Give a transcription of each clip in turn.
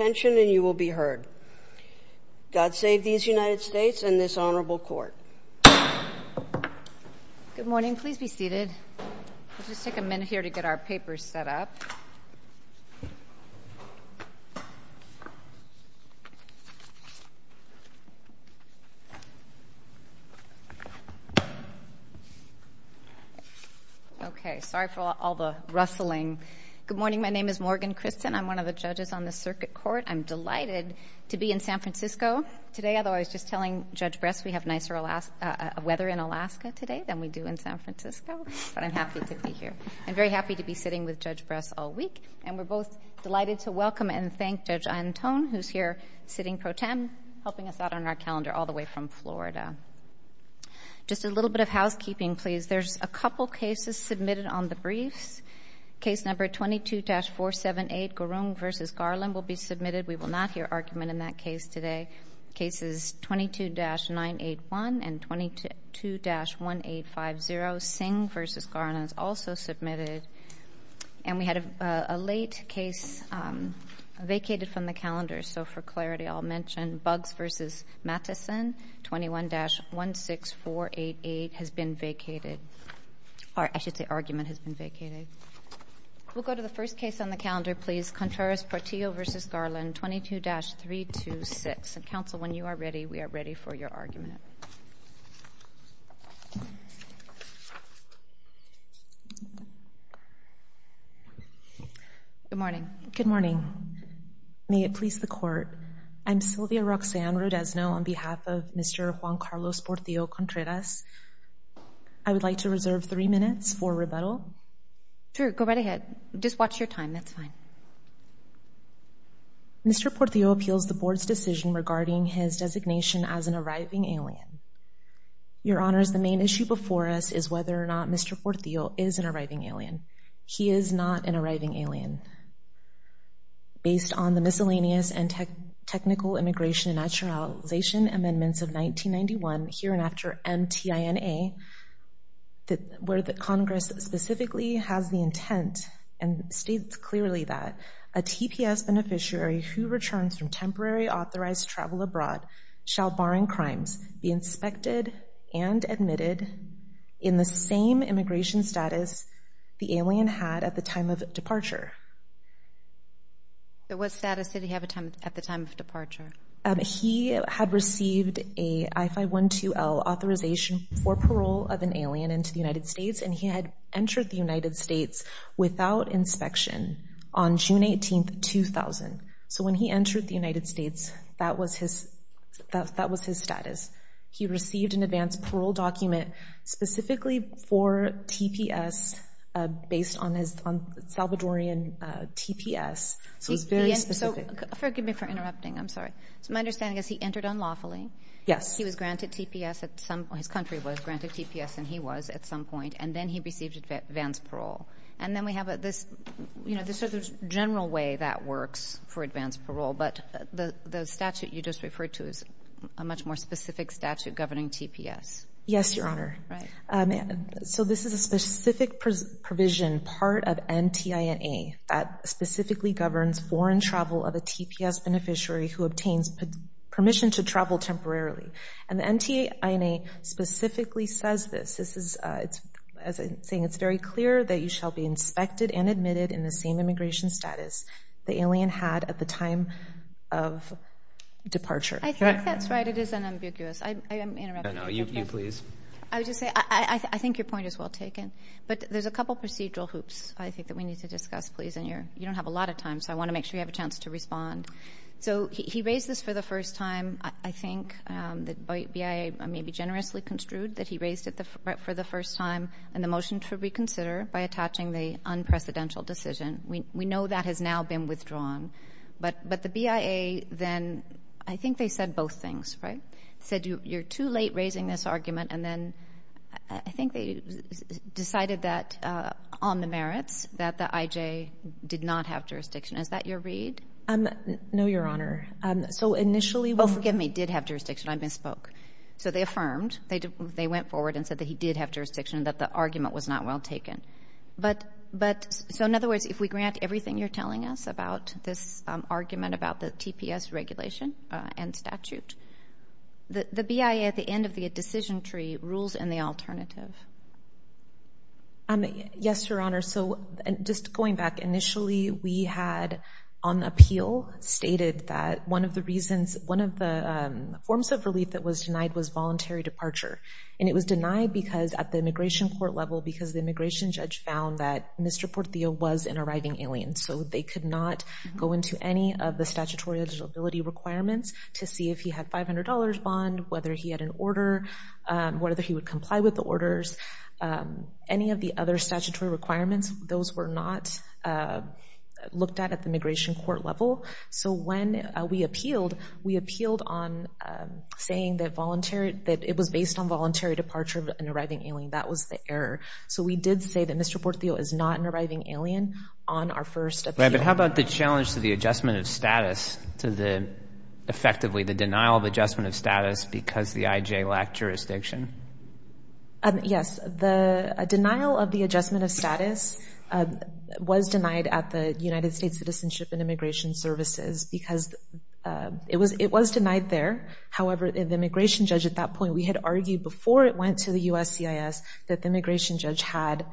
and you will be heard. God save these United States and this honorable court. Good morning. Please be seated. I'll just take a minute here to get our papers set up. Okay. Sorry for all the rustling. Good morning. My name is Morgan Christen. I'm one of the judges on the circuit court. I'm delighted to be in San Francisco today, although I was just telling Judge Bress we have nicer weather in Alaska today than we do in San Francisco, but I'm happy to be here. I'm very happy to be sitting with Judge Bress all week and we're both delighted to welcome and thank Judge Antone, who's here sitting pro tem, helping us out on our calendar all the way from Florida. Just a little bit of housekeeping, please. There's a couple cases submitted on the briefs. Case number 22-478, Garung v. Garland will be submitted. We will not hear argument in that case today. Cases 22-981 and 22-1850, Singh v. Garland is also submitted. And we had a late case vacated from the calendar, so for clarity I'll mention Buggs v. Matteson, 21-16488 has been vacated. Or I should say argument has been vacated. We'll go to the first case on the calendar, please. Contreras Portillo v. Garland, 22-326. And counsel, when you are ready, we are ready for your argument. Good morning. Good morning. May it please the Court, I'm Sylvia Roxanne Rodesno on behalf of Mr. Juan Carlos Portillo Contreras. I would like to reserve three minutes for Mr. Portillo appeals the Board's decision regarding his designation as an arriving alien. Your Honors, the main issue before us is whether or not Mr. Portillo is an arriving alien. He is not an arriving alien. Based on the Miscellaneous and Technical Immigration and Naturalization Amendments of 1991, hereinafter MTINA, where the Congress specifically has the intent and states clearly that a TPS beneficiary who returns from temporary authorized travel abroad shall, barring crimes, be inspected and admitted in the same immigration status the alien had at the time of departure. What status did he have at the time of departure? He had received a I-512L authorization for parole of an alien into the United States and he had entered the United States without inspection on June 18, 2000. So when he entered the United States, that was his status. He received an advance parole document specifically for TPS based on his Salvadorian TPS, so it's very specific. So forgive me for interrupting, I'm sorry. So my understanding is he entered unlawfully? Yes. He was granted TPS at some point, his country was granted TPS and he was at some point, and then he received advance parole. And then we have this, you know, this is the general way that works for advance parole, but the statute you just referred to is a much more specific statute governing TPS. Yes, Your Honor. So this is a specific provision part of MTINA that specifically governs foreign travel of a TPS beneficiary who obtains permission to travel temporarily. And the MTINA specifically says this, this is, as I'm saying, it's very clear that you shall be inspected and admitted in the same immigration status the alien had at the time of departure. I think that's right, it is unambiguous. I am interrupting. No, no, you please. I would just say, I think your point is well taken, but there's a couple procedural hoops, I think, that we need to discuss, please, and you don't have a lot of time, so I want to make sure you have a chance to respond. So he raised this for the first time. I think the BIA may be generously construed that he raised it for the first time and the motion to reconsider by attaching the unprecedented decision. We know that has now been withdrawn. But the BIA then, I think they said both things, right? They said you're too late raising this argument, and then I think they decided that on the merits, that the IJ did not have jurisdiction. Is that your read? No, Your Honor. So initially we're Well, forgive me, did have jurisdiction, I misspoke. So they affirmed, they went forward and said that he did have jurisdiction, that the argument was not well taken. But, so in other words, if we grant everything you're telling us about this argument about the TPS regulation and statute, the BIA at the end of the decision tree rules in the alternative. Yes, Your Honor. So just going back. Initially we had on the appeal stated that one of the reasons, one of the forms of relief that was denied was voluntary departure. And it was denied because at the immigration court level, because the immigration judge found that Mr. Portillo was an arriving alien. So they could not go into any of the statutory eligibility requirements to see if he had $500 bond, whether he had an order, whether he would comply with the orders. Any of the other statutory requirements, those were not looked at at the immigration court level. So when we appealed, we appealed on saying that voluntary, that it was based on voluntary departure of an arriving alien. That was the error. So we did say that Mr. Portillo is not an arriving alien on our first appeal. But how about the challenge to the adjustment of status to the, effectively the denial of adjustment of status because the IJ lacked jurisdiction? Yes. The denial of the adjustment of status was denied at the United States Citizenship and Immigration Services because it was denied there. However, the immigration judge at that point, we had argued before it went to the USCIS that the immigration judge had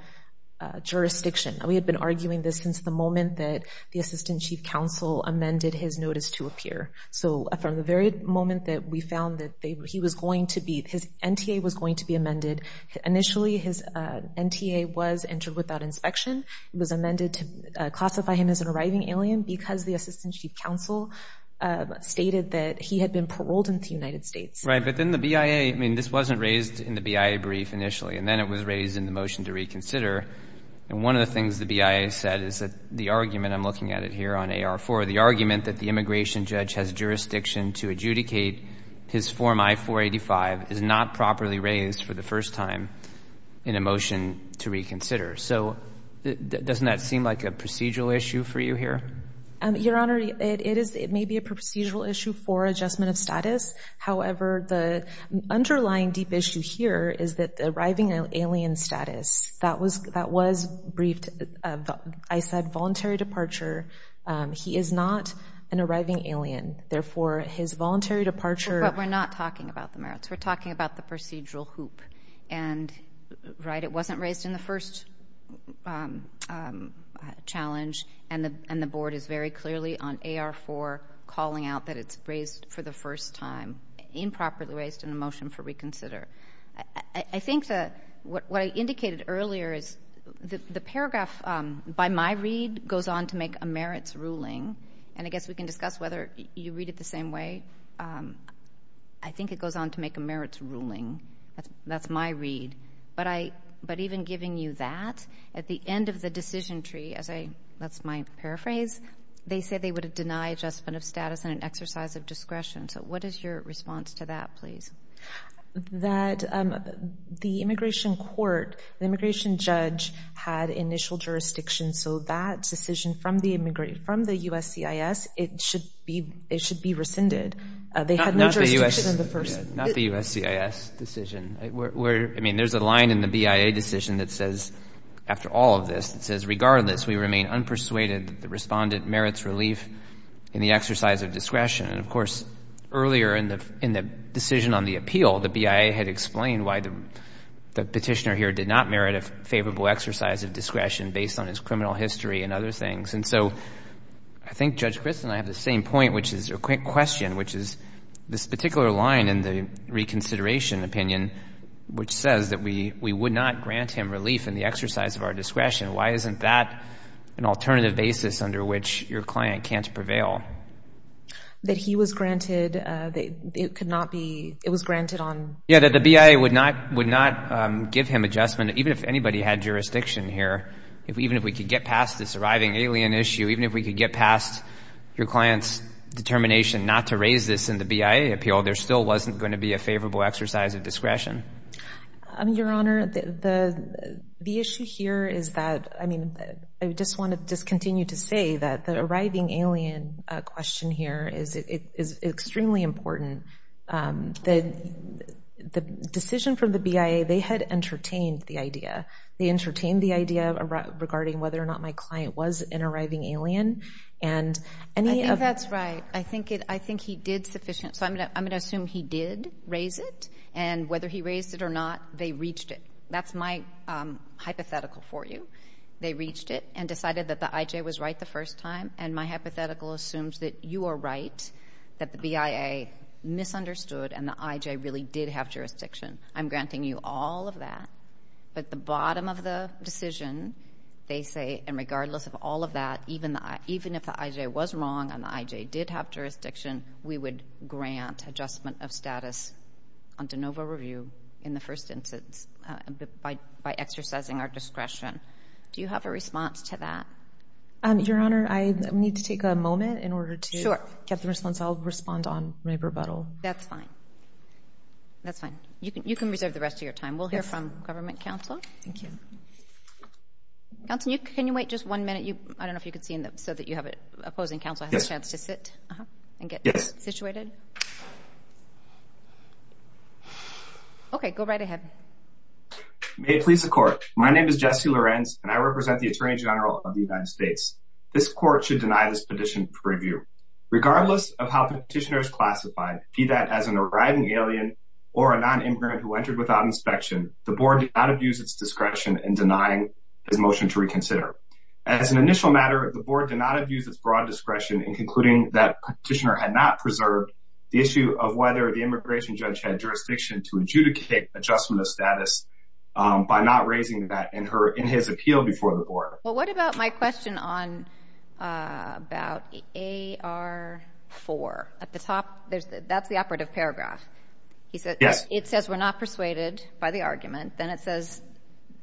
jurisdiction. We had been arguing this since the moment that the Assistant Chief Counsel amended his notice to appear. So from the very moment that we found that he was going to be, his NTA was going to be amended. Initially his NTA was entered without inspection. It was amended to classify him as an arriving alien because the Assistant Chief Counsel stated that he had been paroled in the United States. Right, but then the BIA, I mean, this wasn't raised in the BIA brief initially, and then it was raised in the motion to reconsider. And one of the things the BIA said is that the argument, I'm looking at it here on AR4, the argument that the immigration judge has jurisdiction to adjudicate his Form I-485 is not properly raised for the first time in a motion to reconsider. So doesn't that seem like a procedural issue for you here? Your Honor, it may be a procedural issue for adjustment of status. However, the underlying deep issue here is that the arriving alien status, that was briefed, I said voluntary departure. He is not an arriving alien. Therefore, his voluntary departure. But we're not talking about the merits. We're talking about the procedural hoop. And, right, it wasn't raised in the first challenge, and the Board is very clearly on AR4 calling out that it's raised for the first time, improperly raised in the motion for reconsider. I think that what I indicated earlier is the paragraph by my read goes on to make a merits ruling. And I guess we can discuss whether you read it the same way. I think it goes on to make a merits ruling. That's my read. But even giving you that, at the end of the decision tree, as I, that's my paraphrase, they say they would have denied adjustment of status and an exercise of discretion. So what is your response to that, please? That the immigration court, the immigration judge, had initial jurisdiction. So that decision from the USCIS, it should be rescinded. They had no jurisdiction in the first. Not the USCIS decision. I mean, there's a line in the BIA decision that says, after all of this, it says, regardless, we remain unpersuaded that the respondent merits relief in the exercise of discretion. And, of course, earlier in the decision on the appeal, the BIA had explained why the petitioner here did not merit a favorable exercise of discretion based on his criminal history and other things. And so I think Judge Crist and I have the same point, which is, or question, which is this particular line in the reconsideration opinion, which says that we would not grant him relief in the exercise of our discretion. Why isn't that an alternative basis under which your client can't prevail? That he was granted, it could not be, it was granted on. Yeah, that the BIA would not give him adjustment, even if anybody had jurisdiction here, even if we could get past this arriving alien issue, even if we could get past your client's determination not to raise this in the BIA appeal, there still wasn't going to be a favorable exercise of discretion. Your Honor, the issue here is that, I mean, I just want to continue to say that the arriving alien question here is extremely important. The decision from the BIA, they had entertained the idea. They entertained the idea regarding whether or not my client was an arriving alien. I think that's right. I think he did sufficient. So I'm going to assume he did raise it, and whether he raised it or not, they reached it. That's my hypothetical for you. They reached it and decided that the IJ was right the first time, and my hypothetical assumes that you are right, that the BIA misunderstood and the IJ really did have jurisdiction. I'm granting you all of that, but the bottom of the decision, they say, and regardless of all of that, even if the IJ was wrong and the IJ did have jurisdiction, we would grant adjustment of status on de novo review in the first instance by exercising our discretion. Do you have a response to that? Your Honor, I need to take a moment in order to get the response. I'll respond on my rebuttal. That's fine. That's fine. You can reserve the rest of your time. We'll hear from government counsel. Thank you. Counsel, can you wait just one minute? I don't know if you can see so that you have it. Opposing counsel has a chance to sit and get situated. Yes. Okay, go right ahead. May it please the Court. My name is Jesse Lorenz, and I represent the Attorney General of the United States. This Court should deny this petition for review. Regardless of how the petitioner is classified, be that as an arriving alien or a nonimmigrant who entered without inspection, the Board did not abuse its discretion in denying his motion to reconsider. As an initial matter, the Board did not abuse its broad discretion in concluding that the petitioner had not preserved the issue of whether the immigration judge had jurisdiction to adjudicate adjustment of status by not raising that in his appeal before the Board. Well, what about my question about AR4? That's the operative paragraph. Yes. It says we're not persuaded by the argument. Then it says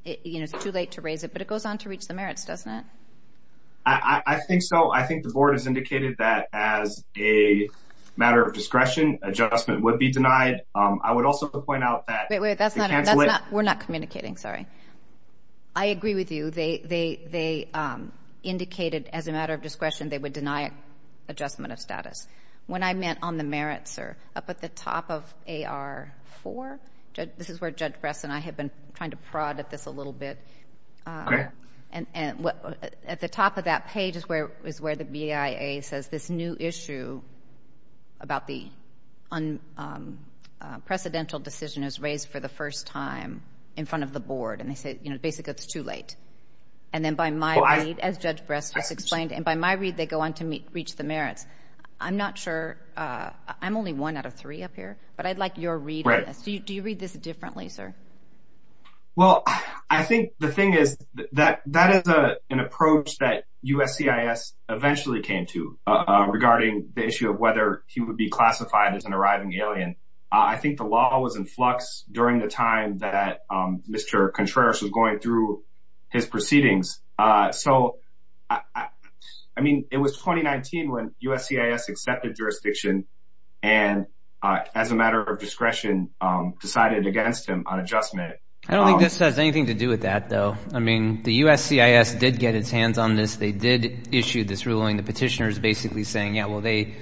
it's too late to raise it, but it goes on to reach the merits, doesn't it? I think so. I think the Board has indicated that as a matter of discretion, adjustment would be denied. I would also point out that it canceled it. We're not communicating, sorry. I agree with you. They indicated as a matter of discretion they would deny adjustment of status. When I meant on the merits, sir, up at the top of AR4, this is where Judge Bress and I have been trying to prod at this a little bit. Okay. At the top of that page is where the BIA says this new issue about the unprecedented decision is raised for the first time in front of the Board, and they say basically it's too late. And then by my read, as Judge Bress just explained, and by my read they go on to reach the merits. I'm not sure. I'm only one out of three up here. But I'd like your read on this. Do you read this differently, sir? Well, I think the thing is that that is an approach that USCIS eventually came to regarding the issue of whether he would be classified as an arriving alien. I think the law was in flux during the time that Mr. Contreras was going through his proceedings. So, I mean, it was 2019 when USCIS accepted jurisdiction and as a matter of discretion decided against him on adjustment. I don't think this has anything to do with that, though. I mean, the USCIS did get its hands on this. They did issue this ruling. The petitioner is basically saying, yeah, well, they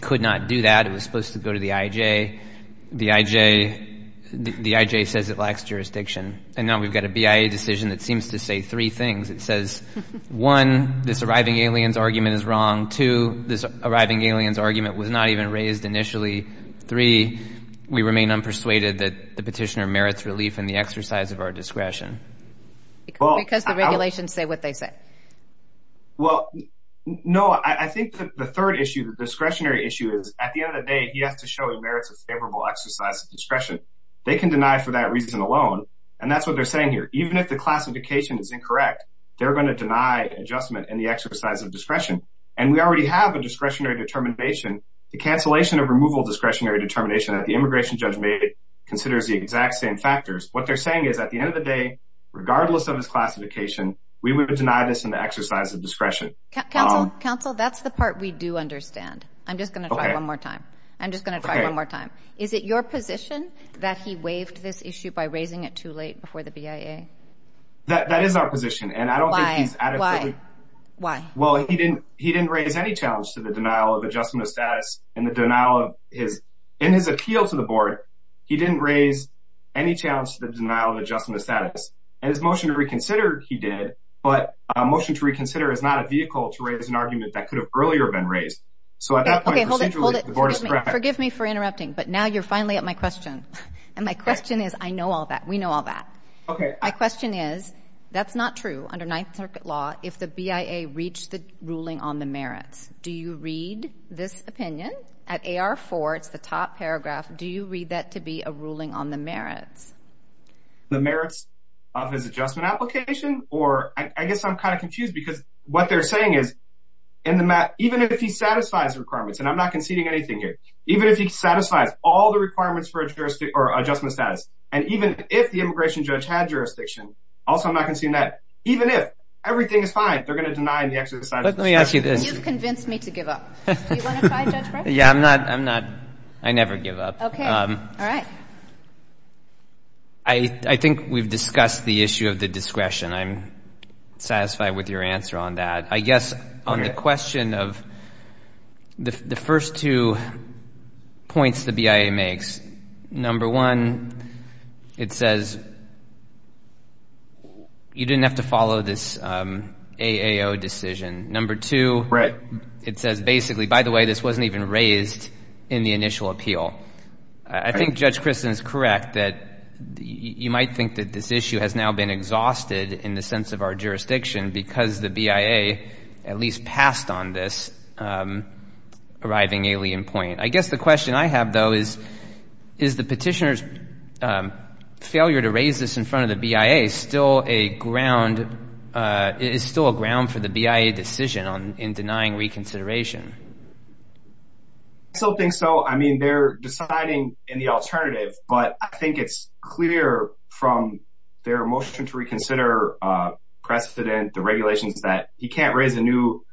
could not do that. It was supposed to go to the IJ. The IJ says it lacks jurisdiction. And now we've got a BIA decision that seems to say three things. It says, one, this arriving alien's argument is wrong. Two, this arriving alien's argument was not even raised initially. Three, we remain unpersuaded that the petitioner merits relief in the exercise of our discretion. Because the regulations say what they say. Well, no, I think the third issue, the discretionary issue, is at the end of the day he has to show he merits a favorable exercise of discretion. They can deny for that reason alone, and that's what they're saying here. Even if the classification is incorrect, they're going to deny adjustment in the exercise of discretion. And we already have a discretionary determination. The cancellation of removal discretionary determination that the immigration judge made considers the exact same factors. What they're saying is at the end of the day, regardless of his classification, we would deny this in the exercise of discretion. Counsel, that's the part we do understand. I'm just going to try one more time. I'm just going to try one more time. Is it your position that he waived this issue by raising it too late before the BIA? That is our position. Why? Well, he didn't raise any challenge to the denial of adjustment of status. In his appeal to the Board, he didn't raise any challenge to the denial of adjustment of status. And his motion to reconsider he did, but a motion to reconsider is not a vehicle to raise an argument that could have earlier been raised. Okay, hold it, hold it. Forgive me for interrupting, but now you're finally at my question. And my question is, I know all that. We know all that. Okay. My question is, that's not true under Ninth Circuit law if the BIA reached the ruling on the merits. Do you read this opinion at AR4, it's the top paragraph, do you read that to be a ruling on the merits? The merits of his adjustment application? Or I guess I'm kind of confused because what they're saying is, even if he satisfies the requirements, and I'm not conceding anything here, even if he satisfies all the requirements for adjustment of status, and even if the immigration judge had jurisdiction, also I'm not conceding that, even if everything is fine, they're going to deny the exercise of discretion. Let me ask you this. You've convinced me to give up. Do you want to try, Judge Breyer? Yeah, I'm not. I never give up. Okay. All right. I think we've discussed the issue of the discretion. I'm satisfied with your answer on that. I guess on the question of the first two points the BIA makes, number one, it says you didn't have to follow this AAO decision. Number two, it says basically, by the way, this wasn't even raised in the initial appeal. I think Judge Kristen is correct that you might think that this issue has now been exhausted in the sense of our jurisdiction because the BIA at least passed on this arriving alien point. I guess the question I have, though, is is the petitioner's failure to raise this in front of the BIA still a ground for the BIA decision in denying reconsideration? I still think so. I mean, they're deciding in the alternative, but I think it's clear from their motion to reconsider precedent, the regulations that he can't raise a new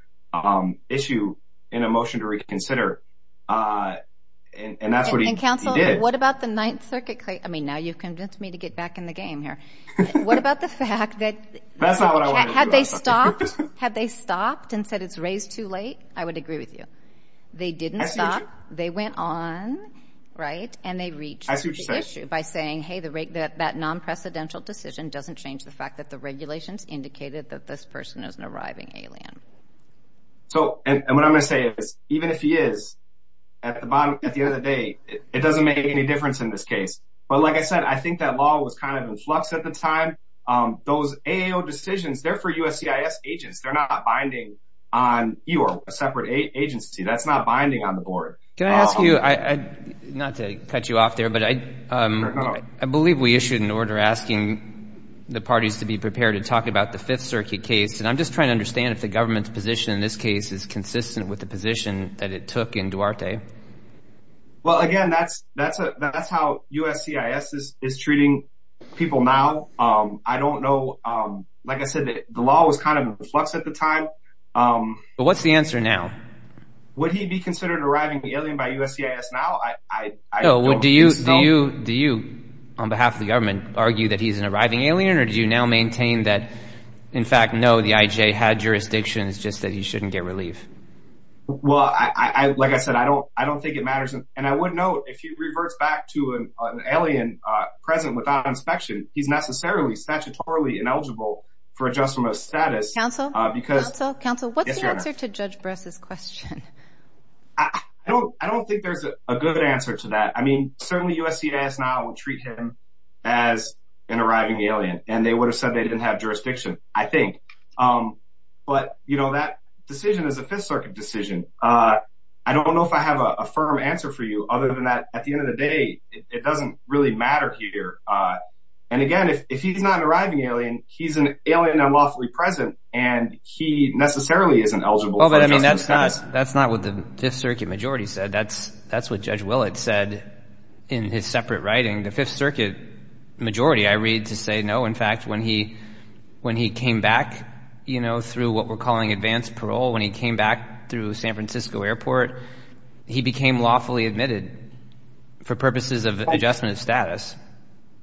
issue in a motion to reconsider, and that's what he did. And, counsel, what about the Ninth Circuit case? I mean, now you've convinced me to get back in the game here. What about the fact that had they stopped and said it's raised too late? I would agree with you. They didn't stop. They went on, right, and they reached the issue by saying, hey, that non-precedential decision doesn't change the fact that the regulations indicated that this person is an arriving alien. And what I'm going to say is even if he is, at the end of the day, it doesn't make any difference in this case. But, like I said, I think that law was kind of in flux at the time. Those AAO decisions, they're for USCIS agents. They're not binding on you or a separate agency. That's not binding on the board. Can I ask you, not to cut you off there, but I believe we issued an order asking the parties to be prepared to talk about the Fifth Circuit case. And I'm just trying to understand if the government's position in this case is consistent with the position that it took in Duarte. Well, again, that's how USCIS is treating people now. I don't know. Like I said, the law was kind of in flux at the time. What's the answer now? Would he be considered an arriving alien by USCIS now? No. Do you, on behalf of the government, argue that he's an arriving alien or do you now maintain that, in fact, no, the IJ had jurisdictions, just that he shouldn't get relief? Well, like I said, I don't think it matters. And I would note, if he reverts back to an alien present without inspection, he's necessarily statutorily ineligible for adjustment of status. Counsel? Counsel? Counsel? Yes, Your Honor. What's your answer to Judge Bress's question? I don't think there's a good answer to that. I mean, certainly USCIS now would treat him as an arriving alien, and they would have said they didn't have jurisdiction, I think. But, you know, that decision is a Fifth Circuit decision. I don't know if I have a firm answer for you other than that, at the end of the day, it doesn't really matter here. And, again, if he's not an arriving alien, he's an alien unlawfully present, and he necessarily isn't eligible for adjustment of status. That's not what the Fifth Circuit majority said. That's what Judge Willett said in his separate writing. The Fifth Circuit majority, I read, to say no. In fact, when he came back, you know, through what we're calling advanced parole, when he came back through San Francisco Airport, he became lawfully admitted for purposes of adjustment of status.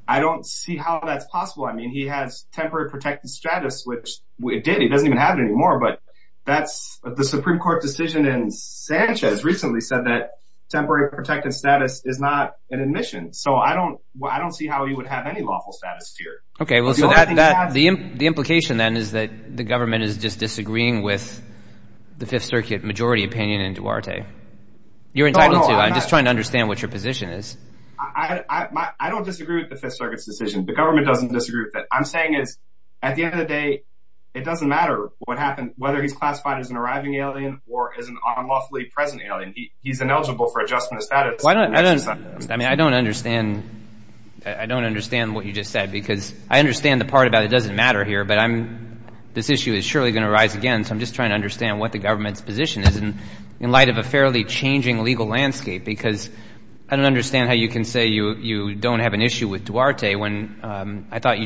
I don't see how that's possible. I mean, he has temporary protected status, which it did. He doesn't even have it anymore. But the Supreme Court decision in Sanchez recently said that temporary protected status is not an admission. So I don't see how he would have any lawful status here. Okay, well, so the implication then is that the government is just disagreeing with the Fifth Circuit majority opinion in Duarte. You're entitled to. I'm just trying to understand what your position is. I don't disagree with the Fifth Circuit's decision. The government doesn't disagree with it. What I'm saying is at the end of the day, it doesn't matter what happens, whether he's classified as an arriving alien or as an unlawfully present alien. He's ineligible for adjustment of status. I mean, I don't understand what you just said because I understand the part about it doesn't matter here, but this issue is surely going to arise again. So I'm just trying to understand what the government's position is in light of a fairly changing legal landscape I thought you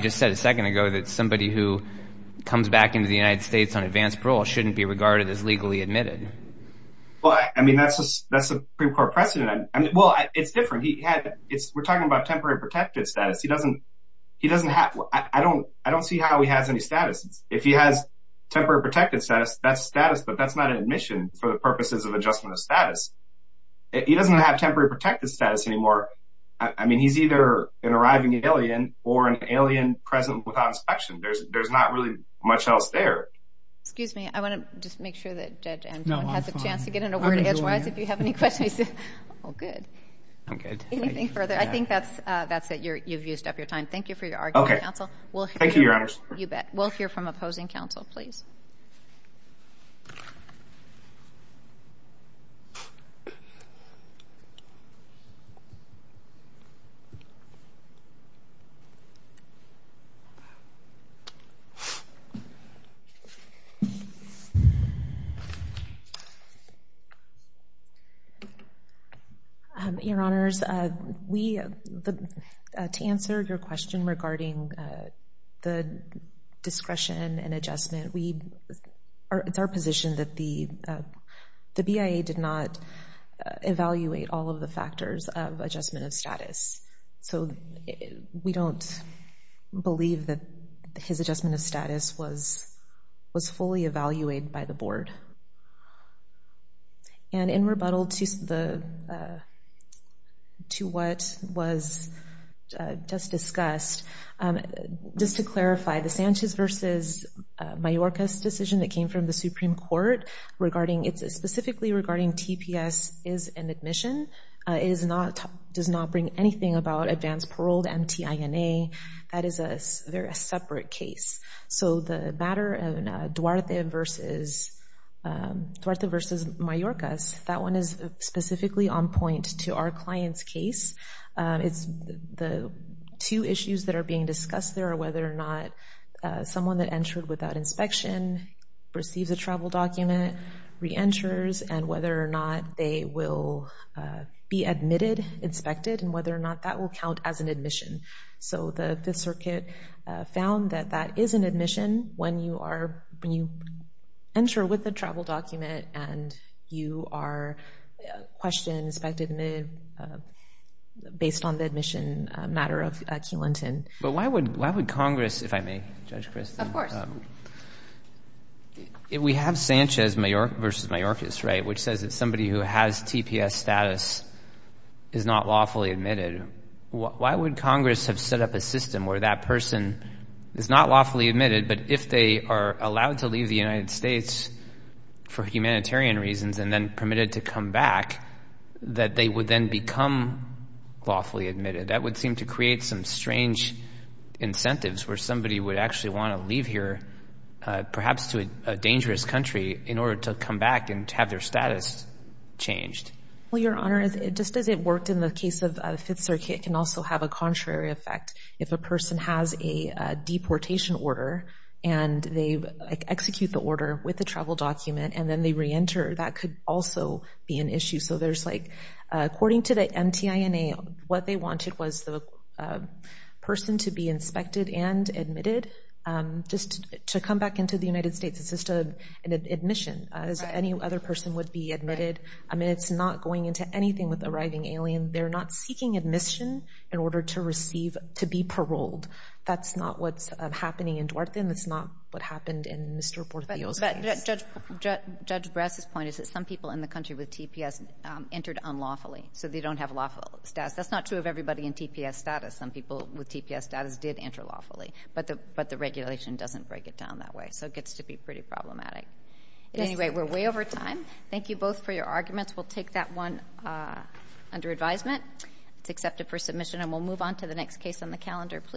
just said a second ago that somebody who comes back into the United States on advanced parole shouldn't be regarded as legally admitted. Well, I mean, that's a Supreme Court precedent. Well, it's different. We're talking about temporary protected status. I don't see how he has any status. If he has temporary protected status, that's status, but that's not an admission for the purposes of adjustment of status. He doesn't have temporary protected status anymore. I mean, he's either an arriving alien or an alien present without inspection. There's not really much else there. Excuse me. I want to just make sure that Judge Antoine has a chance to get in a word edgewise if you have any questions. Oh, good. Anything further? I think that's it. You've used up your time. Thank you for your argument, counsel. Okay. Thank you, Your Honors. You bet. We'll hear from opposing counsel, please. Your Honors, to answer your question regarding the discretion and adjustment, it's our position that the BIA did not evaluate all of the factors of adjustment of status. So we don't believe that his adjustment of status was fully evaluated by the board. And in rebuttal to what was just discussed, just to clarify, the Sanchez v. Mayorkas decision that came from the Supreme Court, specifically regarding TPS is an admission, does not bring anything about advanced paroled, MTINA, that is a separate case. So the matter of Duarte v. Mayorkas, that one is specifically on point to our client's case. The two issues that are being discussed there are whether or not someone that entered without inspection receives a travel document, reenters, and whether or not they will be admitted, inspected, and whether or not that will count as an admission. So the Fifth Circuit found that that is an admission when you enter with a travel document and you are questioned, inspected, and admitted based on the admission matter of King-Linton. But why would Congress, if I may, Judge Kristen? Of course. We have Sanchez v. Mayorkas, right, which says that somebody who has TPS status is not lawfully admitted. Why would Congress have set up a system where that person is not lawfully admitted, but if they are allowed to leave the United States for humanitarian reasons and then permitted to come back, that they would then become lawfully admitted? That would seem to create some strange incentives where somebody would actually want to leave here, perhaps to a dangerous country, in order to come back and have their status changed. Well, Your Honor, just as it worked in the case of the Fifth Circuit, it can also have a contrary effect. If a person has a deportation order and they execute the order with the travel document and then they reenter, that could also be an issue. So there's like, according to the MTINA, what they wanted was the person to be inspected and admitted. Just to come back into the United States, it's just an admission, as any other person would be admitted. I mean, it's not going into anything with arriving alien. They're not seeking admission in order to receive, to be paroled. That's not what's happening in Dwarthin. That's not what happened in Mr. Portillo's case. But Judge Brass's point is that some people in the country with TPS entered unlawfully, so they don't have lawful status. That's not true of everybody in TPS status. Some people with TPS status did enter lawfully, but the regulation doesn't break it down that way, so it gets to be pretty problematic. At any rate, we're way over time. Thank you both for your arguments. We'll take that one under advisement. It's accepted for submission, and we'll move on to the next case on the calendar.